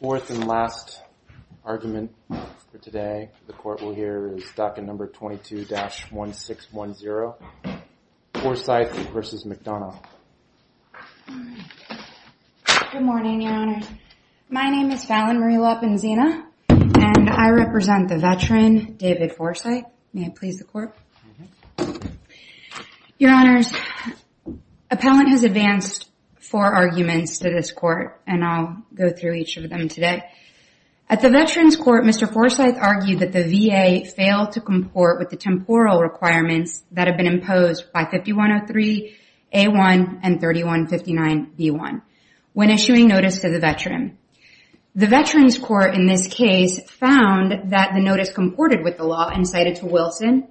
Fourth and last argument for today the court will hear is docket number 22-1610 Forsythe v. McDonough. Good morning your honors. My name is Fallon Marie Lopenzina and I represent the veteran David Forsythe. May I please the court? Your honors, appellant has advanced four arguments to this court and I'll go through each of them today. At the veterans court Mr. Forsythe argued that the VA failed to comport with the temporal requirements that have been imposed by 5103 a1 and 3159 b1 when issuing notice to the veteran. The veterans court in this case found that the notice comported with the law and cited to Wilson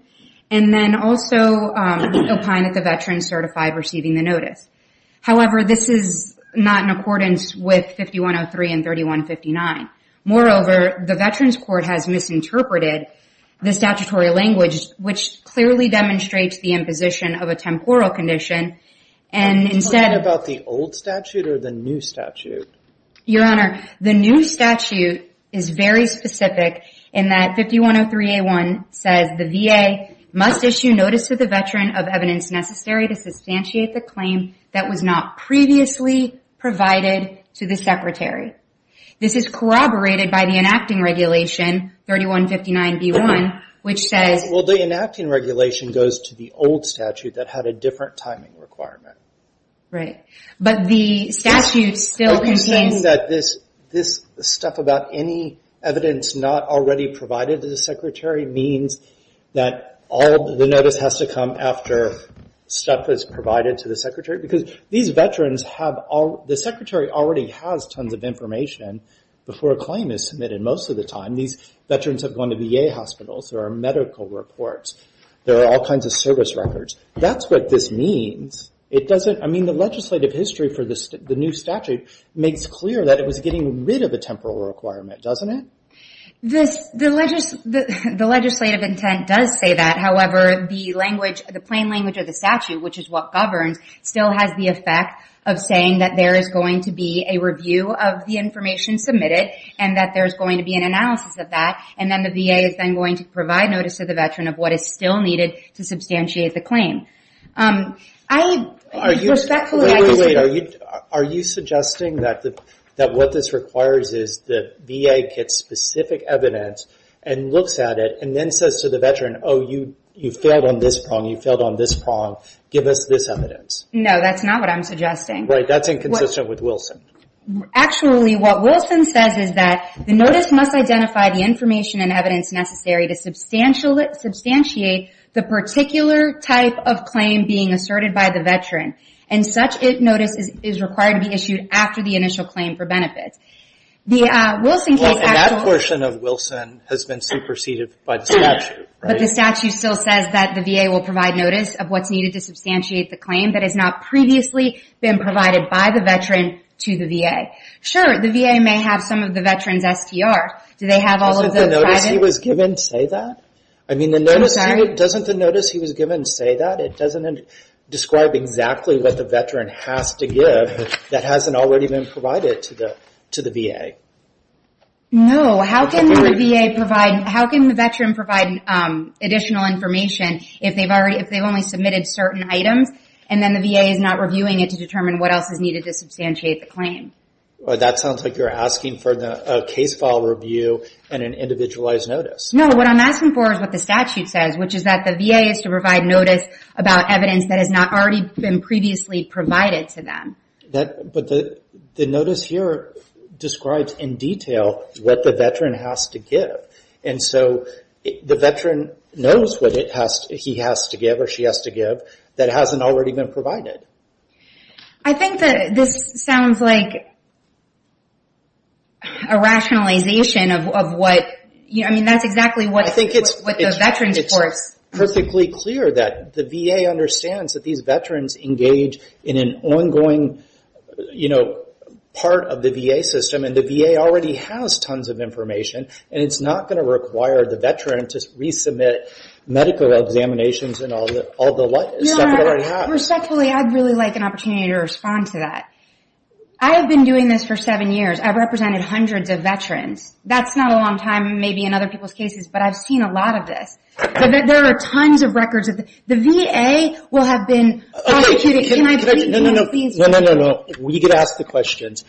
and then also opined that the in accordance with 5103 and 3159. Moreover the veterans court has misinterpreted the statutory language which clearly demonstrates the imposition of a temporal condition and instead about the old statute or the new statute? Your honor, the new statute is very specific in that 5103 a1 says the VA must issue notice to the veteran of evidence necessary to substantiate the claim that was not previously provided to the secretary. This is corroborated by the enacting regulation 3159 b1 which says... Well the enacting regulation goes to the old statute that had a different timing requirement. Right, but the statute still contains... That this stuff about any evidence not already provided to the secretary means that all the notice has to come after stuff is provided to the secretary because these veterans have all... The secretary already has tons of information before a claim is submitted most of the time. These veterans have gone to VA hospitals. There are medical reports. There are all kinds of service records. That's what this means. It doesn't... I mean the legislative history for the new statute makes clear that it was getting rid of the temporal requirement, doesn't it? The legislative intent does say that. However the language, the plain language of the statute, which is what governs, still has the effect of saying that there is going to be a review of the information submitted and that there's going to be an analysis of that and then the VA is then going to provide notice to the veteran of what is still needed to substantiate the claim. I respectfully... Wait, wait, wait. Are you suggesting that what this requires is the VA gets specific evidence and looks at it and then says to the veteran, oh you failed on this prong. You failed on this prong. Give us this evidence. No, that's not what I'm suggesting. Right, that's inconsistent with Wilson. Actually what Wilson says is that the notice must identify the information and evidence necessary to substantiate the particular type of claim being asserted by the veteran and such a notice is required to be issued after the initial claim for benefits. The Wilson case... That portion of Wilson has been superseded by the statute. But the statute still says that the VA will provide notice of what's needed to substantiate the claim that has not previously been provided by the veteran to the VA. Sure, the VA may have some of the veteran's STR. Do they have all of the... Doesn't the notice he was given say that? I'm sorry? Doesn't the notice he was given say that? It doesn't describe exactly what the veteran has to give that hasn't already been provided to the VA. No, how can the VA provide, how can the veteran provide additional information if they've only submitted certain items and then the VA is not reviewing it to determine what else is needed to substantiate the claim? That sounds like you're asking for a case file review and an individualized notice. No, what I'm asking for is what the statute says, which is that the VA is to provide notice about evidence that has not already been previously provided to them. But the notice here describes in detail what the veteran has to give. And so, the veteran knows what he has to give or she has to give that hasn't already been provided. I think that this sounds like a rationalization of what, I mean, that's exactly what the veteran's perfectly clear that the VA understands that these veterans engage in an ongoing part of the VA system and the VA already has tons of information. And it's not going to require the veteran to resubmit medical examinations and all the stuff that already happened. Respectfully, I'd really like an opportunity to respond to that. I have been doing this for seven years. I've represented hundreds of veterans. That's not a long time, maybe in other people's cases, but I've seen a lot of this. There are tons of records. The VA will have been prosecuted. Okay, can I just, no, no, no, no, no, no, no, no, no, no, no, no, no. We get to ask the questions.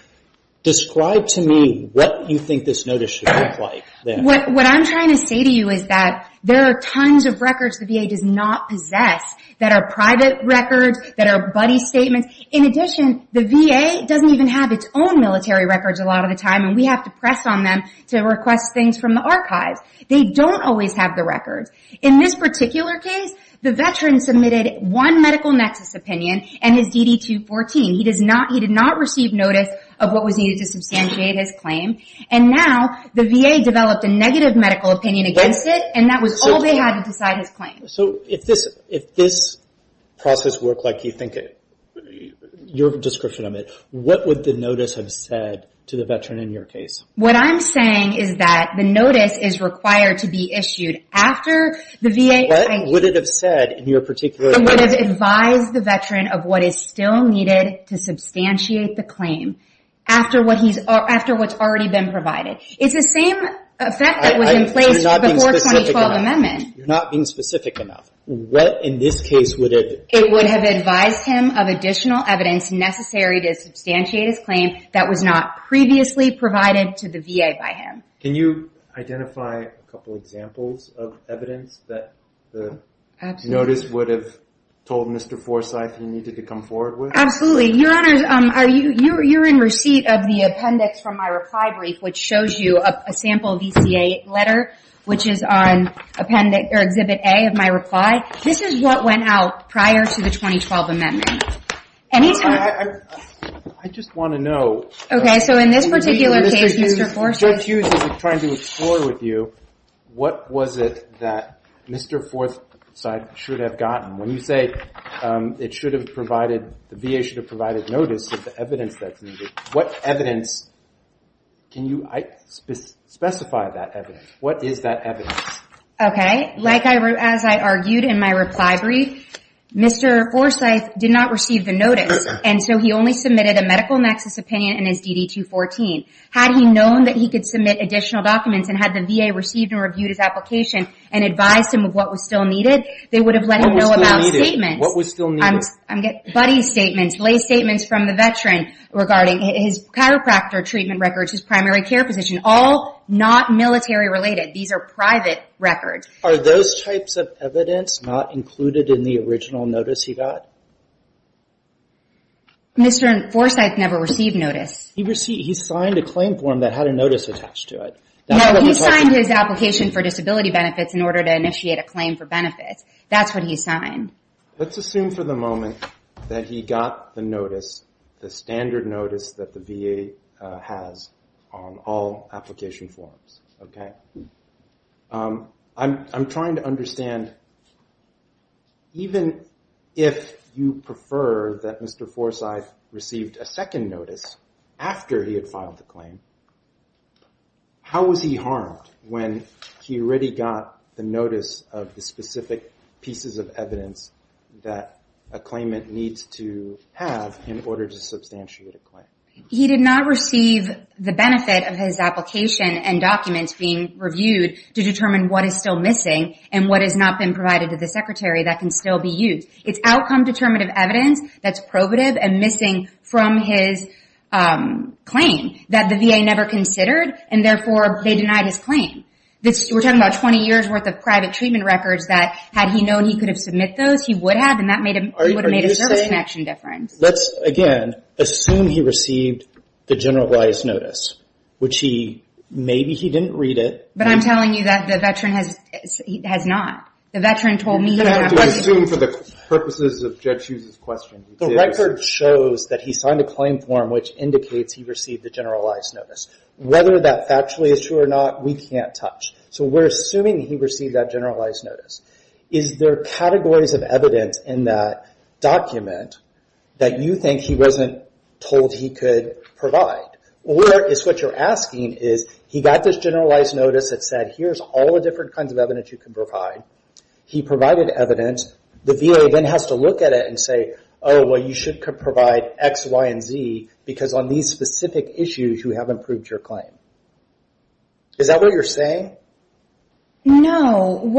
Describe to me what you think this notice should look like. What I'm trying to say to you is that there are tons of records the VA does not possess that are private records, that are buddy statements. In addition, the VA doesn't even have its own military records a lot of the time, and we have to press on them to request things from the archives. They don't always have the records. In this particular case, the veteran submitted one medical nexus opinion and his DD-214. He did not receive notice of what was needed to substantiate his claim. And now the VA developed a negative medical opinion against it, and that was all they had to decide his claim. So if this process worked like you think, your description of it, what would the notice have said to the veteran in your case? What I'm saying is that the notice is required to be issued after the VA- What would it have said in your particular- It would have advised the veteran of what is still needed to substantiate the claim after what's already been provided. It's the same effect that was in place before the 2012 amendment. You're not being specific enough. What in this case would it- It would have advised him of additional evidence necessary to substantiate his claim that was not previously provided to the VA by him. Can you identify a couple examples of evidence that the notice would have told Mr. Forsyth he needed to come forward with? Absolutely. Your Honor, you're in receipt of the appendix from my reply brief, which shows you a sample VCA letter, which is on Exhibit A of my reply. This is what went out prior to the 2012 amendment. Any time- I just want to know- Okay. In this particular case, Mr. Forsyth- Judge Hughes is trying to explore with you, what was it that Mr. Forsyth should have gotten? When you say the VA should have provided notice of the evidence that's needed, what evidence- Can you specify that evidence? What is that evidence? Okay. As I argued in my reply brief, Mr. Forsyth did not receive the notice, and so he only submitted a medical nexus opinion in his DD-214. Had he known that he could submit additional documents and had the VA received and reviewed his application and advised him of what was still needed, they would have let him know about- What was still needed? What was still needed? Buddy's statements, lay statements from the veteran regarding his chiropractor treatment records, his primary care position, all not military-related. These are private records. Are those types of evidence not included in the original notice he got? Mr. Forsyth never received notice. He signed a claim form that had a notice attached to it. No, he signed his application for disability benefits in order to initiate a claim for benefits. That's what he signed. Let's assume for the moment that he got the notice, the standard notice that the VA has on all application forms, okay? I'm trying to understand, even if you prefer that Mr. Forsyth received a second notice after he had filed the claim, how was he harmed when he already got the notice of the specific pieces of evidence that a claimant needs to have in order to substantiate a claim? He did not receive the benefit of his application and documents being reviewed to determine what is still missing and what has not been provided to the secretary that can still be used. It's outcome-determinative evidence that's probative and missing from his claim that the VA never considered, and therefore they denied his claim. We're talking about 20 years worth of private treatment records that had he known he could have submit those, he would have, and that would have made a service connection difference. Let's, again, assume he received the generalized notice, which he, maybe he didn't read it. But I'm telling you that the veteran has not. The veteran told me- You have to assume for the purposes of Judge Hughes's question. The record shows that he signed a claim form, which indicates he received the generalized notice. Whether that factually is true or not, we can't touch. We're assuming he received that generalized notice. Is there categories of evidence in that document that you think he wasn't told he could provide? Or is what you're asking, is he got this generalized notice that said, here's all the different kinds of evidence you can provide. He provided evidence. The VA then has to look at it and say, oh, well, you should provide X, Y, and Z, because on these specific issues, you haven't proved your claim. Is that what you're saying? No.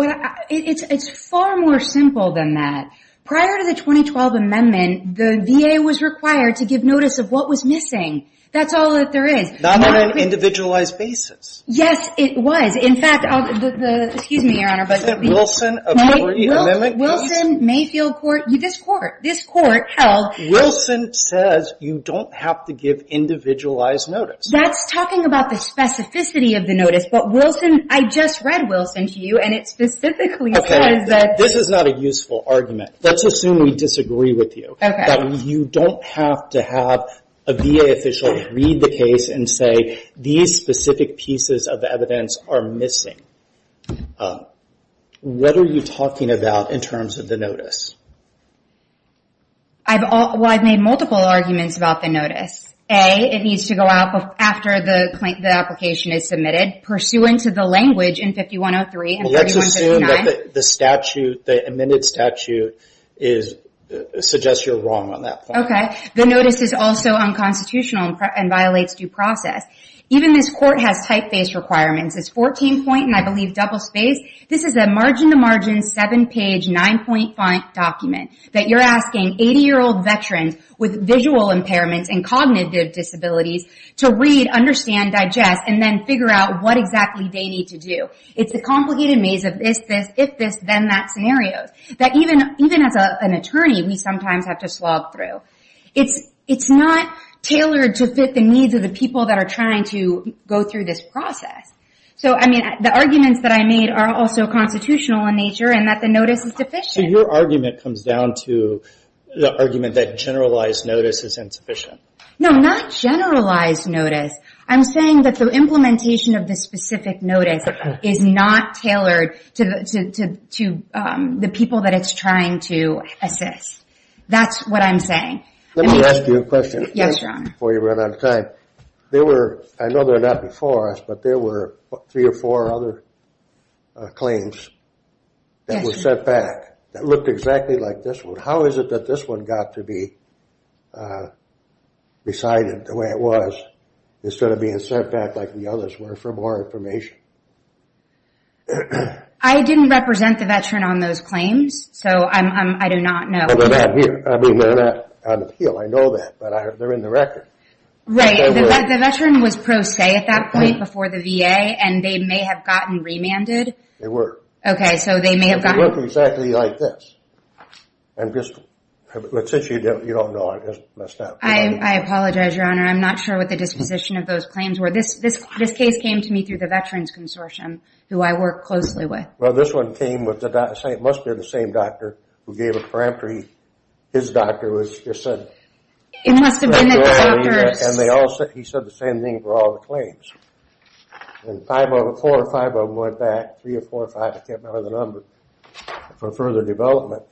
It's far more simple than that. Prior to the 2012 amendment, the VA was required to give notice of what was missing. That's all that there is. Not on an individualized basis. Yes, it was. In fact, excuse me, Your Honor. Isn't Wilson a pre-amendment? Wilson may feel this court held- Wilson says you don't have to give individualized notice. That's talking about the specificity of the notice. I just read Wilson to you, and it specifically says that- This is not a useful argument. Let's assume we disagree with you. You don't have to have a VA official read the case and say, these specific pieces of evidence are missing. What are you talking about in terms of the notice? Well, I've made multiple arguments about the notice. A, it needs to go out after the application is submitted, pursuant to the language in 5103 and 5159. Let's assume that the statute, the amended statute, suggests you're wrong on that point. Okay. The notice is also unconstitutional and violates due process. Even this court has typeface requirements. It's 14 point, and I believe double-spaced. This is a margin-to-margin, seven-page, nine-point document that you're asking 80-year-old veterans with visual impairments and cognitive disabilities to read, understand, digest, and then figure out what exactly they need to do. It's a complicated maze of this, this, if this, then that scenario that even as an attorney, we sometimes have to slog through. It's not tailored to fit the needs of the people that are trying to go through this process. The arguments that I made are also constitutional in nature, and that the notice is deficient. Your argument comes down to the argument that generalized notice is insufficient. No, not generalized notice. I'm saying that the implementation of the specific notice is not tailored to the people that it's trying to assist. That's what I'm saying. Let me ask you a question before you run out of time. I know they're not before us, but there were three or four other claims that were sent back that looked exactly like this one. How is it that this one got to be decided the way it was instead of being sent back the others were for more information? I didn't represent the veteran on those claims, so I do not know. I mean, they're not on appeal. I know that, but they're in the record. Right. The veteran was pro se at that point before the VA, and they may have gotten remanded. They were. Okay, so they may have gotten... They look exactly like this. I'm just, since you don't know, I just messed up. I apologize, Your Honor. I'm not sure what the disposition of those claims were. This case came to me through the Veterans Consortium, who I work closely with. Well, this one came with the... It must be the same doctor who gave a parametry. His doctor was just sent. It must have been that the doctors... And they all said... He said the same thing for all the claims. And five of them, four or five of them went back, three or four or five, I can't remember the number, for further development,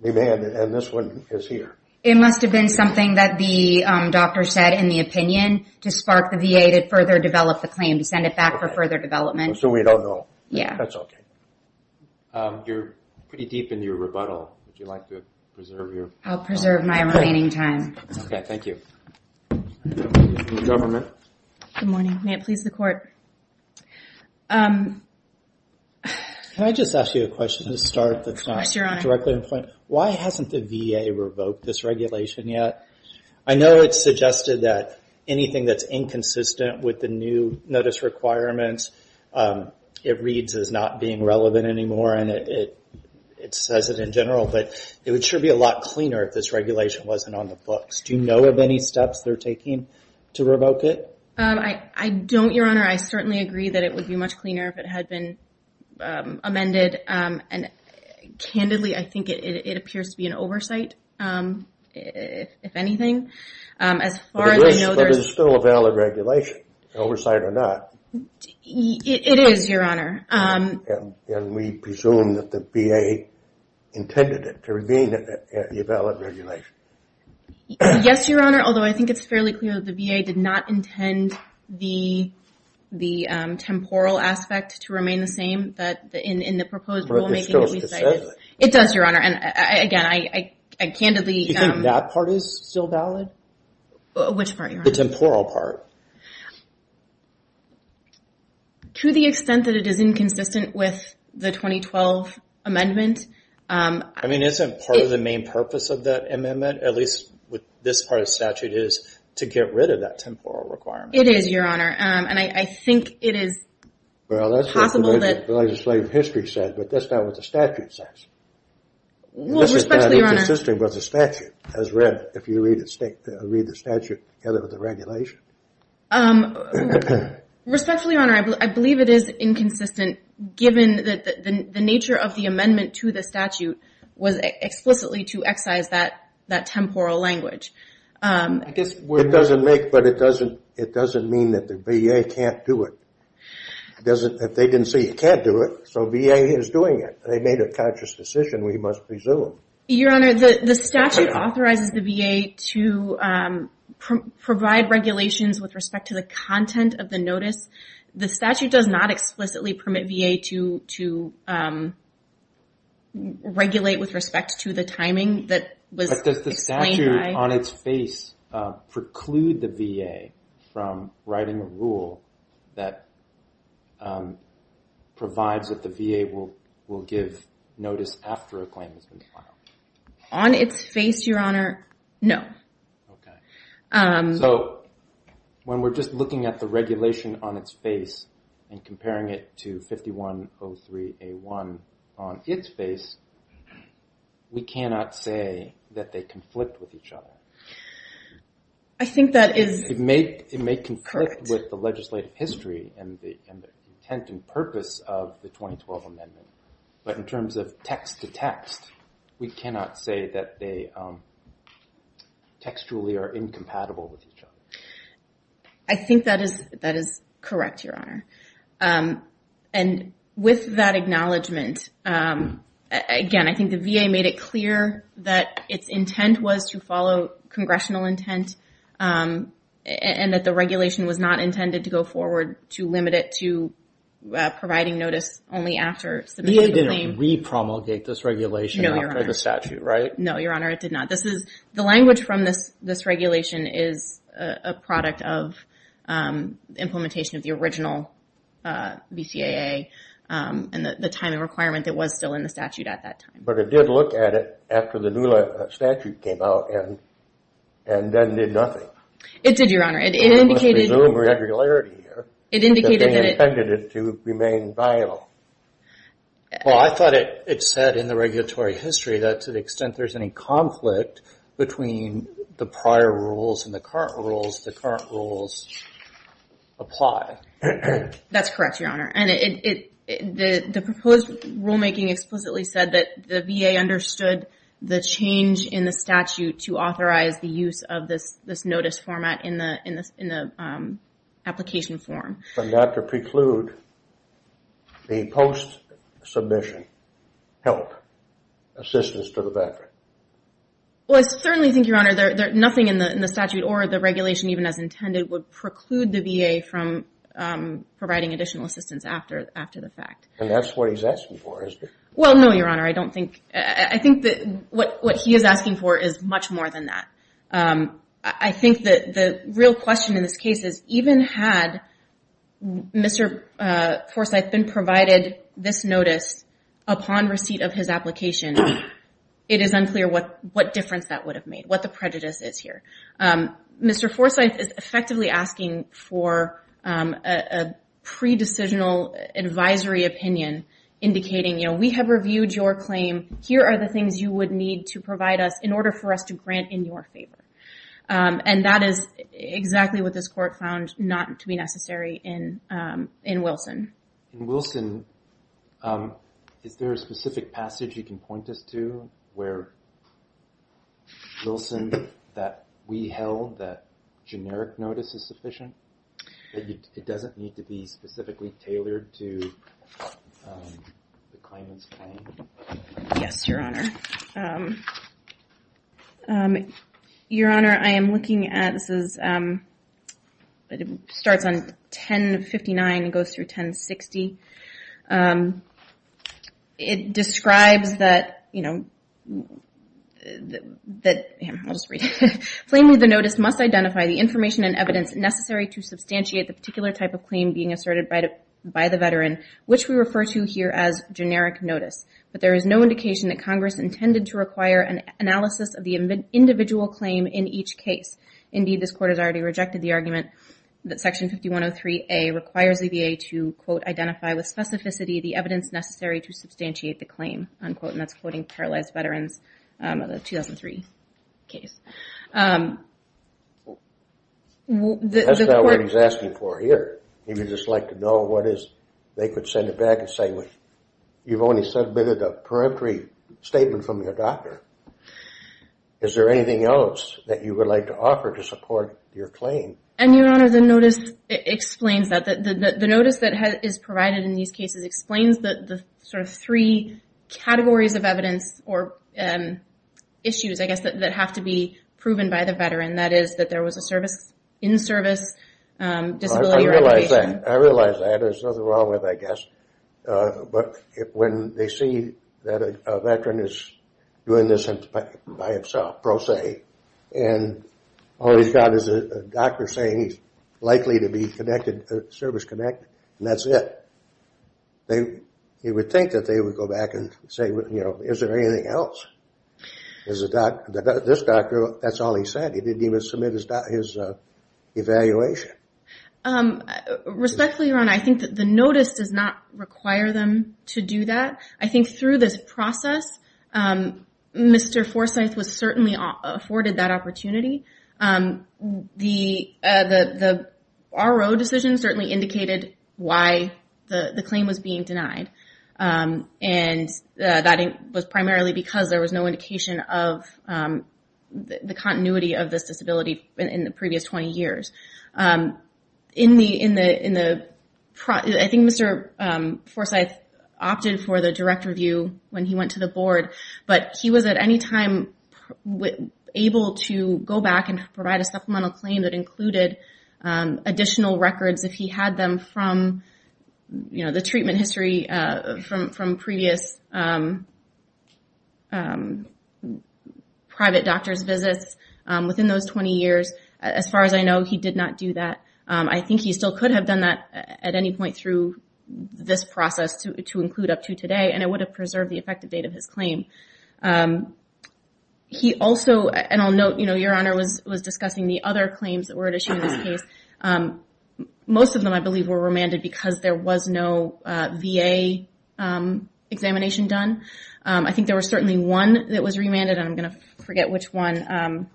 remanded, and this one is here. It must have been something that the doctor said in the opinion to spark the VA to further develop the claim, to send it back for further development. So we don't know. Yeah. That's okay. You're pretty deep into your rebuttal. Would you like to preserve your... I'll preserve my remaining time. Okay, thank you. The government. Good morning. May it please the court. Can I just ask you a question to start that's not... Yes, Your Honor. Why hasn't the VA revoked this regulation yet? I know it's suggested that anything that's inconsistent with the new notice requirements, it reads as not being relevant anymore and it says it in general, but it would sure be a lot cleaner if this regulation wasn't on the books. Do you know of any steps they're taking to revoke it? I don't, Your Honor. I certainly agree that it would be much cleaner if it had been amended. And candidly, I think it appears to be an oversight, if anything. As far as I know, there's... But it's still a valid regulation, oversight or not. It is, Your Honor. And we presume that the VA intended it to remain a valid regulation. Yes, Your Honor. Although I think it's fairly clear that the VA did not intend the temporal aspect to remain the same, that in the proposed rulemaking... But it still is consistent. It does, Your Honor. And again, I candidly... Do you think that part is still valid? Which part, Your Honor? The temporal part. To the extent that it is inconsistent with the 2012 amendment... I mean, isn't part of the main purpose of that amendment, at least with this part of the statute, is to get rid of that temporal requirement? It is, Your Honor. And I think it is possible that... Well, that's what the legislative history said, but that's not what the statute says. Well, respectfully, Your Honor... This is not inconsistent with the statute, as read, if you read the statute together with the regulation. Respectfully, Your Honor, I believe it is inconsistent, given that the nature of the amendment to the statute was explicitly to excise that temporal language. I guess we're... But it doesn't mean that the VA can't do it. If they didn't say you can't do it, so VA is doing it. They made a conscious decision, we must presume. Your Honor, the statute authorizes the VA to provide regulations with respect to the content of the notice. The statute does not explicitly permit VA to regulate with respect to the timing that was explained by... From writing a rule that provides that the VA will give notice after a claim has been filed. On its face, Your Honor, no. So when we're just looking at the regulation on its face and comparing it to 5103A1 on its face, we cannot say that they conflict with each other. I think that is correct. It may conflict with the legislative history and the intent and purpose of the 2012 amendment, but in terms of text-to-text, we cannot say that they textually are incompatible with each other. I think that is correct, Your Honor. And with that acknowledgment, again, I think the VA made it clear that its intent was to follow congressional intent and that the regulation was not intended to go forward to limit it to providing notice only after submitting a claim. VA didn't re-promulgate this regulation after the statute, right? No, Your Honor, it did not. The language from this regulation is a product of implementation of the original BCAA and the timing requirement that was still in the statute at that time. But it did look at it after the new statute came out and then did nothing. It did, Your Honor. It indicated- I must resume regularity here. It indicated that it- That they intended it to remain vital. Well, I thought it said in the regulatory history that to the extent there's any conflict between the prior rules and the current rules, the current rules apply. That's correct, Your Honor. And the proposed rulemaking explicitly said that the VA understood the change in the statute to authorize the use of this notice format in the application form. From that to preclude the post-submission help, assistance to the veteran. Well, I certainly think, Your Honor, nothing in the statute or the regulation, even as intended, would preclude the VA from providing additional assistance after the fact. And that's what he's asking for, is it? Well, no, Your Honor. I don't think- I think that what he is asking for is much more than that. I think that the real question in this case is even had Mr. Forsythe been provided this notice upon receipt of his application, it is unclear what difference that would have made, what the prejudice is here. Mr. Forsythe is effectively asking for a pre-decisional advisory opinion indicating, you know, we have reviewed your claim. Here are the things you would need to provide us in order for us to grant in your favor. And that is exactly what this court found not to be necessary in Wilson. In Wilson, is there a specific passage you can point us to where in Wilson that we held that generic notice is sufficient? It doesn't need to be specifically tailored to the claimant's claim? Yes, Your Honor. Your Honor, I am looking at- this is- it starts on 1059 and goes through 1060. It describes that, you know, that- I'll just read it. Claim with the notice must identify the information and evidence necessary to substantiate the particular type of claim being asserted by the veteran, which we refer to here as generic notice. But there is no indication that Congress intended to require an analysis of the individual claim in each case. Indeed, this court has already rejected the argument that Section 5103A requires the VA to, quote, identify with specificity the evidence necessary to substantiate the claim, unquote. And that's quoting paralyzed veterans of the 2003 case. That's not what he's asking for here. He would just like to know what is- they could send it back and say, you've only submitted a peremptory statement from your doctor. Is there anything else that you would like to offer to support your claim? And, Your Honor, the notice explains that. The notice that is provided in these cases explains the sort of three categories of evidence or issues, I guess, that have to be proven by the veteran. That is, that there was a service- in-service disability recommendation. I realize that. There's nothing wrong with it, I guess. But when they see that a veteran is doing this by himself, pro se, and all he's got is a doctor saying he's likely to be service-connected, and that's it, they would think that they would go back and say, you know, is there anything else? This doctor, that's all he said. He didn't even submit his evaluation. Respectfully, Your Honor, I think that the notice does not require them to do that. I think through this process, Mr. Forsyth was certainly afforded that opportunity. The RO decision certainly indicated why the claim was being denied. And that was primarily because there was no indication of the continuity of this disability in the previous 20 years. I think Mr. Forsyth opted for the direct review when he went to the board, but he was at any time able to go back and provide a supplemental claim that included additional records if he had them from the treatment history from previous private doctor's visits within those 20 years. As far as I know, he did not do that. I think he still could have done that at any point through this process to include up to today, and it would have preserved the effective date of his claim. He also, and I'll note, Your Honor was discussing the other claims that were at issue in this case. Most of them, I believe, were remanded because there was no VA examination done. I think there was certainly one that was remanded, and I'm going to forget which one,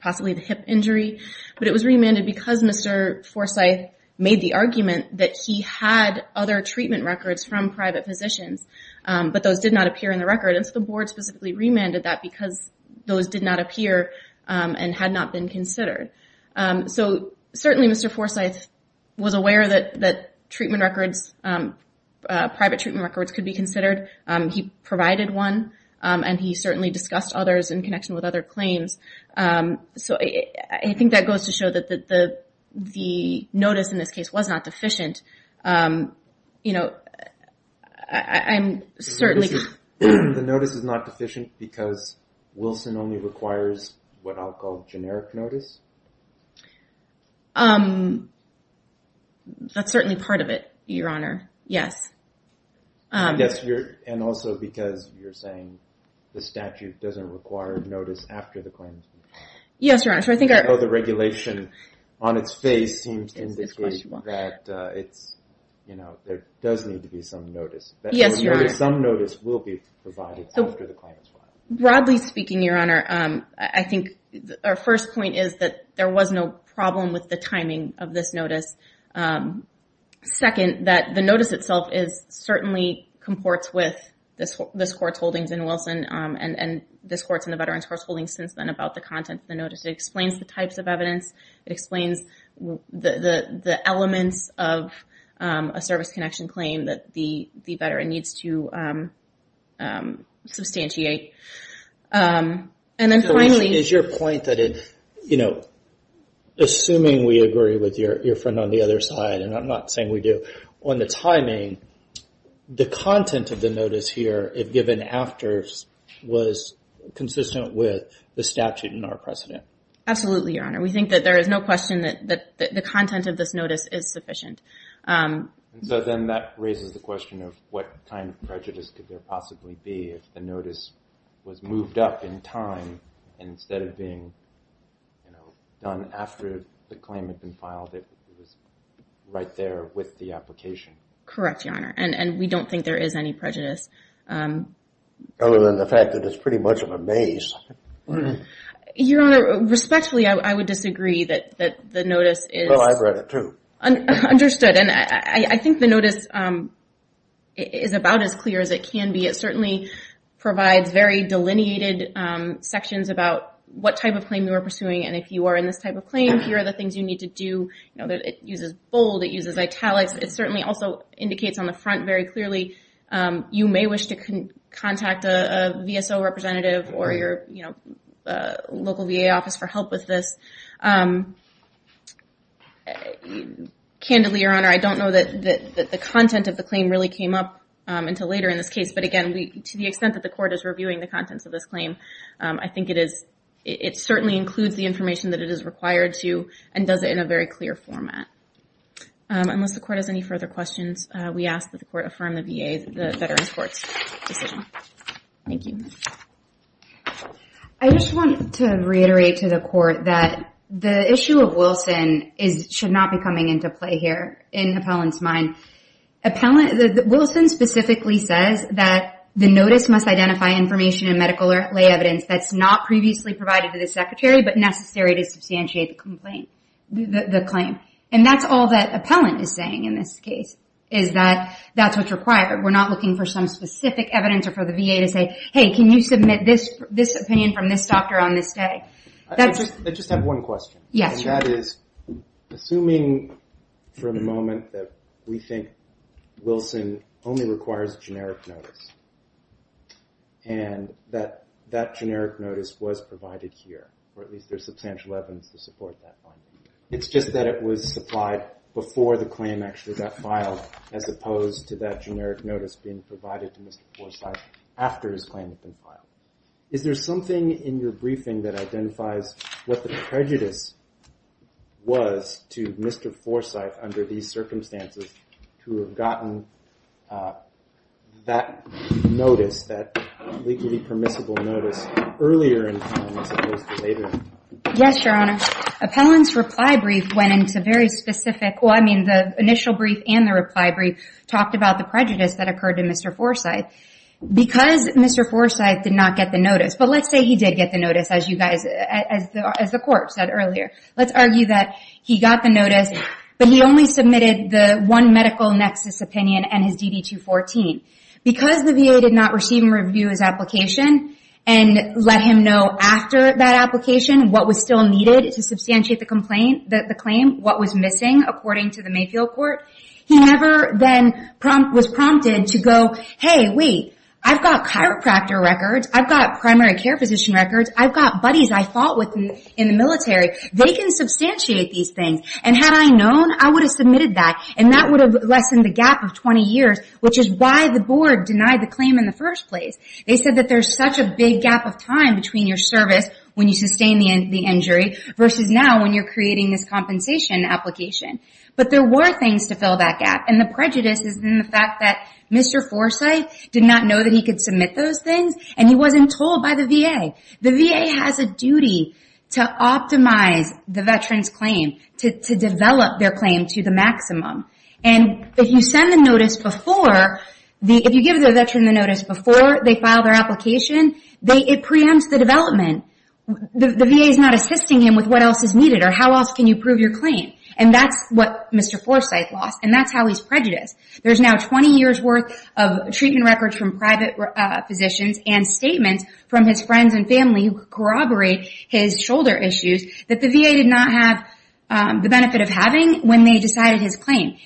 possibly the hip injury. But it was remanded because Mr. Forsyth made the argument that he had other treatment records from private physicians, but those did not appear in the record. And so the board specifically remanded that because those did not appear and had not been considered. So certainly Mr. Forsyth was aware that private treatment records could be considered. He provided one, and he certainly discussed others in connection with other claims. So I think that goes to show that the notice in this case was not deficient. The notice is not deficient because Wilson only requires what I'll call generic notice? That's certainly part of it, Your Honor, yes. I guess, and also because you're saying the statute doesn't require notice after the claim. Yes, Your Honor. So I think the regulation on its face seems to indicate that there does need to be some notice. Yes, Your Honor. Some notice will be provided after the claim is filed. Broadly speaking, Your Honor, I think our first point is that there was no problem with the timing of this notice. Second, that the notice itself certainly comports with this Court's holdings in Wilson and this Court's and the Veterans' Courts' holdings since then about the content of the notice. It explains the types of evidence. It explains the elements of a service connection claim that the veteran needs to substantiate. And then finally- You know, assuming we agree with your friend on the other side, and I'm not saying we do, on the timing, the content of the notice here, if given after, was consistent with the statute and our precedent. Absolutely, Your Honor. We think that there is no question that the content of this notice is sufficient. So then that raises the question of what kind of prejudice could there possibly be if the notice was moved up in time instead of being, you know, done after the claim had been filed. It was right there with the application. Correct, Your Honor. And we don't think there is any prejudice. Other than the fact that it's pretty much of a maze. Your Honor, respectfully, I would disagree that the notice is- Well, I've read it too. Understood. And I think the notice is about as clear as it can be. It certainly provides very delineated sections about what type of claim you are pursuing. And if you are in this type of claim, here are the things you need to do. You know, it uses bold, it uses italics. It certainly also indicates on the front very clearly, you may wish to contact a VSO representative or your local VA office for help with this. Candidly, Your Honor, I don't know that the content of the claim really came up until later in this case. But again, to the extent that the court is reviewing the contents of this claim, I think it certainly includes the information that it is required to and does it in a very clear format. Unless the court has any further questions, we ask that the court affirm the VA, the Veterans Court's decision. Thank you. I just want to reiterate to the court that the issue of Wilson should not be coming into play here in appellant's mind. Appellant, Wilson specifically says that the notice must identify information and medical lay evidence that's not previously provided to the secretary, but necessary to substantiate the complaint, the claim. And that's all that appellant is saying in this case, is that that's what's required. We're not looking for some specific evidence or for the VA to say, hey, can you submit this opinion from this doctor on this day? I just have one question. Yes. That is, assuming for the moment that we think Wilson only requires generic notice and that that generic notice was provided here, or at least there's substantial evidence to support that finding. It's just that it was supplied before the claim actually got filed, as opposed to that generic notice being provided to Mr. Forsyth after his claim had been filed. Is there something in your briefing that identifies what the prejudice was to Mr. Forsyth under these circumstances to have gotten that notice, that legally permissible notice, earlier in time as opposed to later? Yes, Your Honor. Appellant's reply brief went into very specific, well, I mean, the initial brief and the reply brief talked about the prejudice that occurred to Mr. Forsyth. Because Mr. Forsyth did not get the notice, let's say he did get the notice, as the court said earlier. Let's argue that he got the notice, but he only submitted the one medical nexus opinion and his DD-214. Because the VA did not receive and review his application and let him know after that application what was still needed to substantiate the claim, what was missing, according to the Mayfield Court, he never then was prompted to go, hey, wait, I've got chiropractor records, I've got primary care physician records, I've got buddies I fought with in the military, they can substantiate these things. And had I known, I would have submitted that. And that would have lessened the gap of 20 years, which is why the board denied the claim in the first place. They said that there's such a big gap of time between your service when you sustain the injury versus now when you're creating this compensation application. But there were things to fill that gap. And the prejudice is in the fact that Mr. Forsyth did not know that he could submit those things and he wasn't told by the VA. The VA has a duty to optimize the veteran's claim, to develop their claim to the maximum. And if you send the notice before, if you give the veteran the notice before they file their application, it preempts the development. The VA is not assisting him with what else is needed or how else can you prove your claim. And that's what Mr. Forsyth lost. And that's how he's prejudiced. There's now 20 years worth of treatment records from private physicians and statements from his friends and family who corroborate his shoulder issues that the VA did not have the benefit of having when they decided his claim.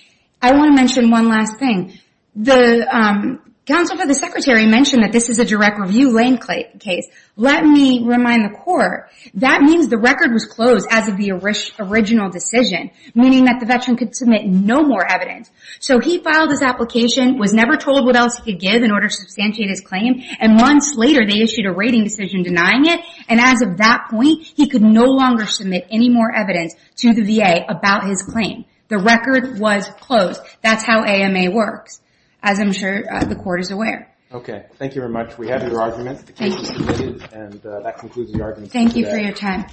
I want to mention one last thing. The counsel for the secretary mentioned that this is a direct review lane case. Let me remind the court, that means the record was closed as of the original decision, meaning that the veteran could submit no more evidence. So he filed his application, was never told what else he could give in order to substantiate his claim. And months later, they issued a rating decision denying it. And as of that point, he could no longer submit any more evidence to the VA about his claim. The record was closed. That's how AMA works, as I'm sure the court is aware. Okay. Thank you very much. We have your argument. And that concludes the argument. Thank you for your time.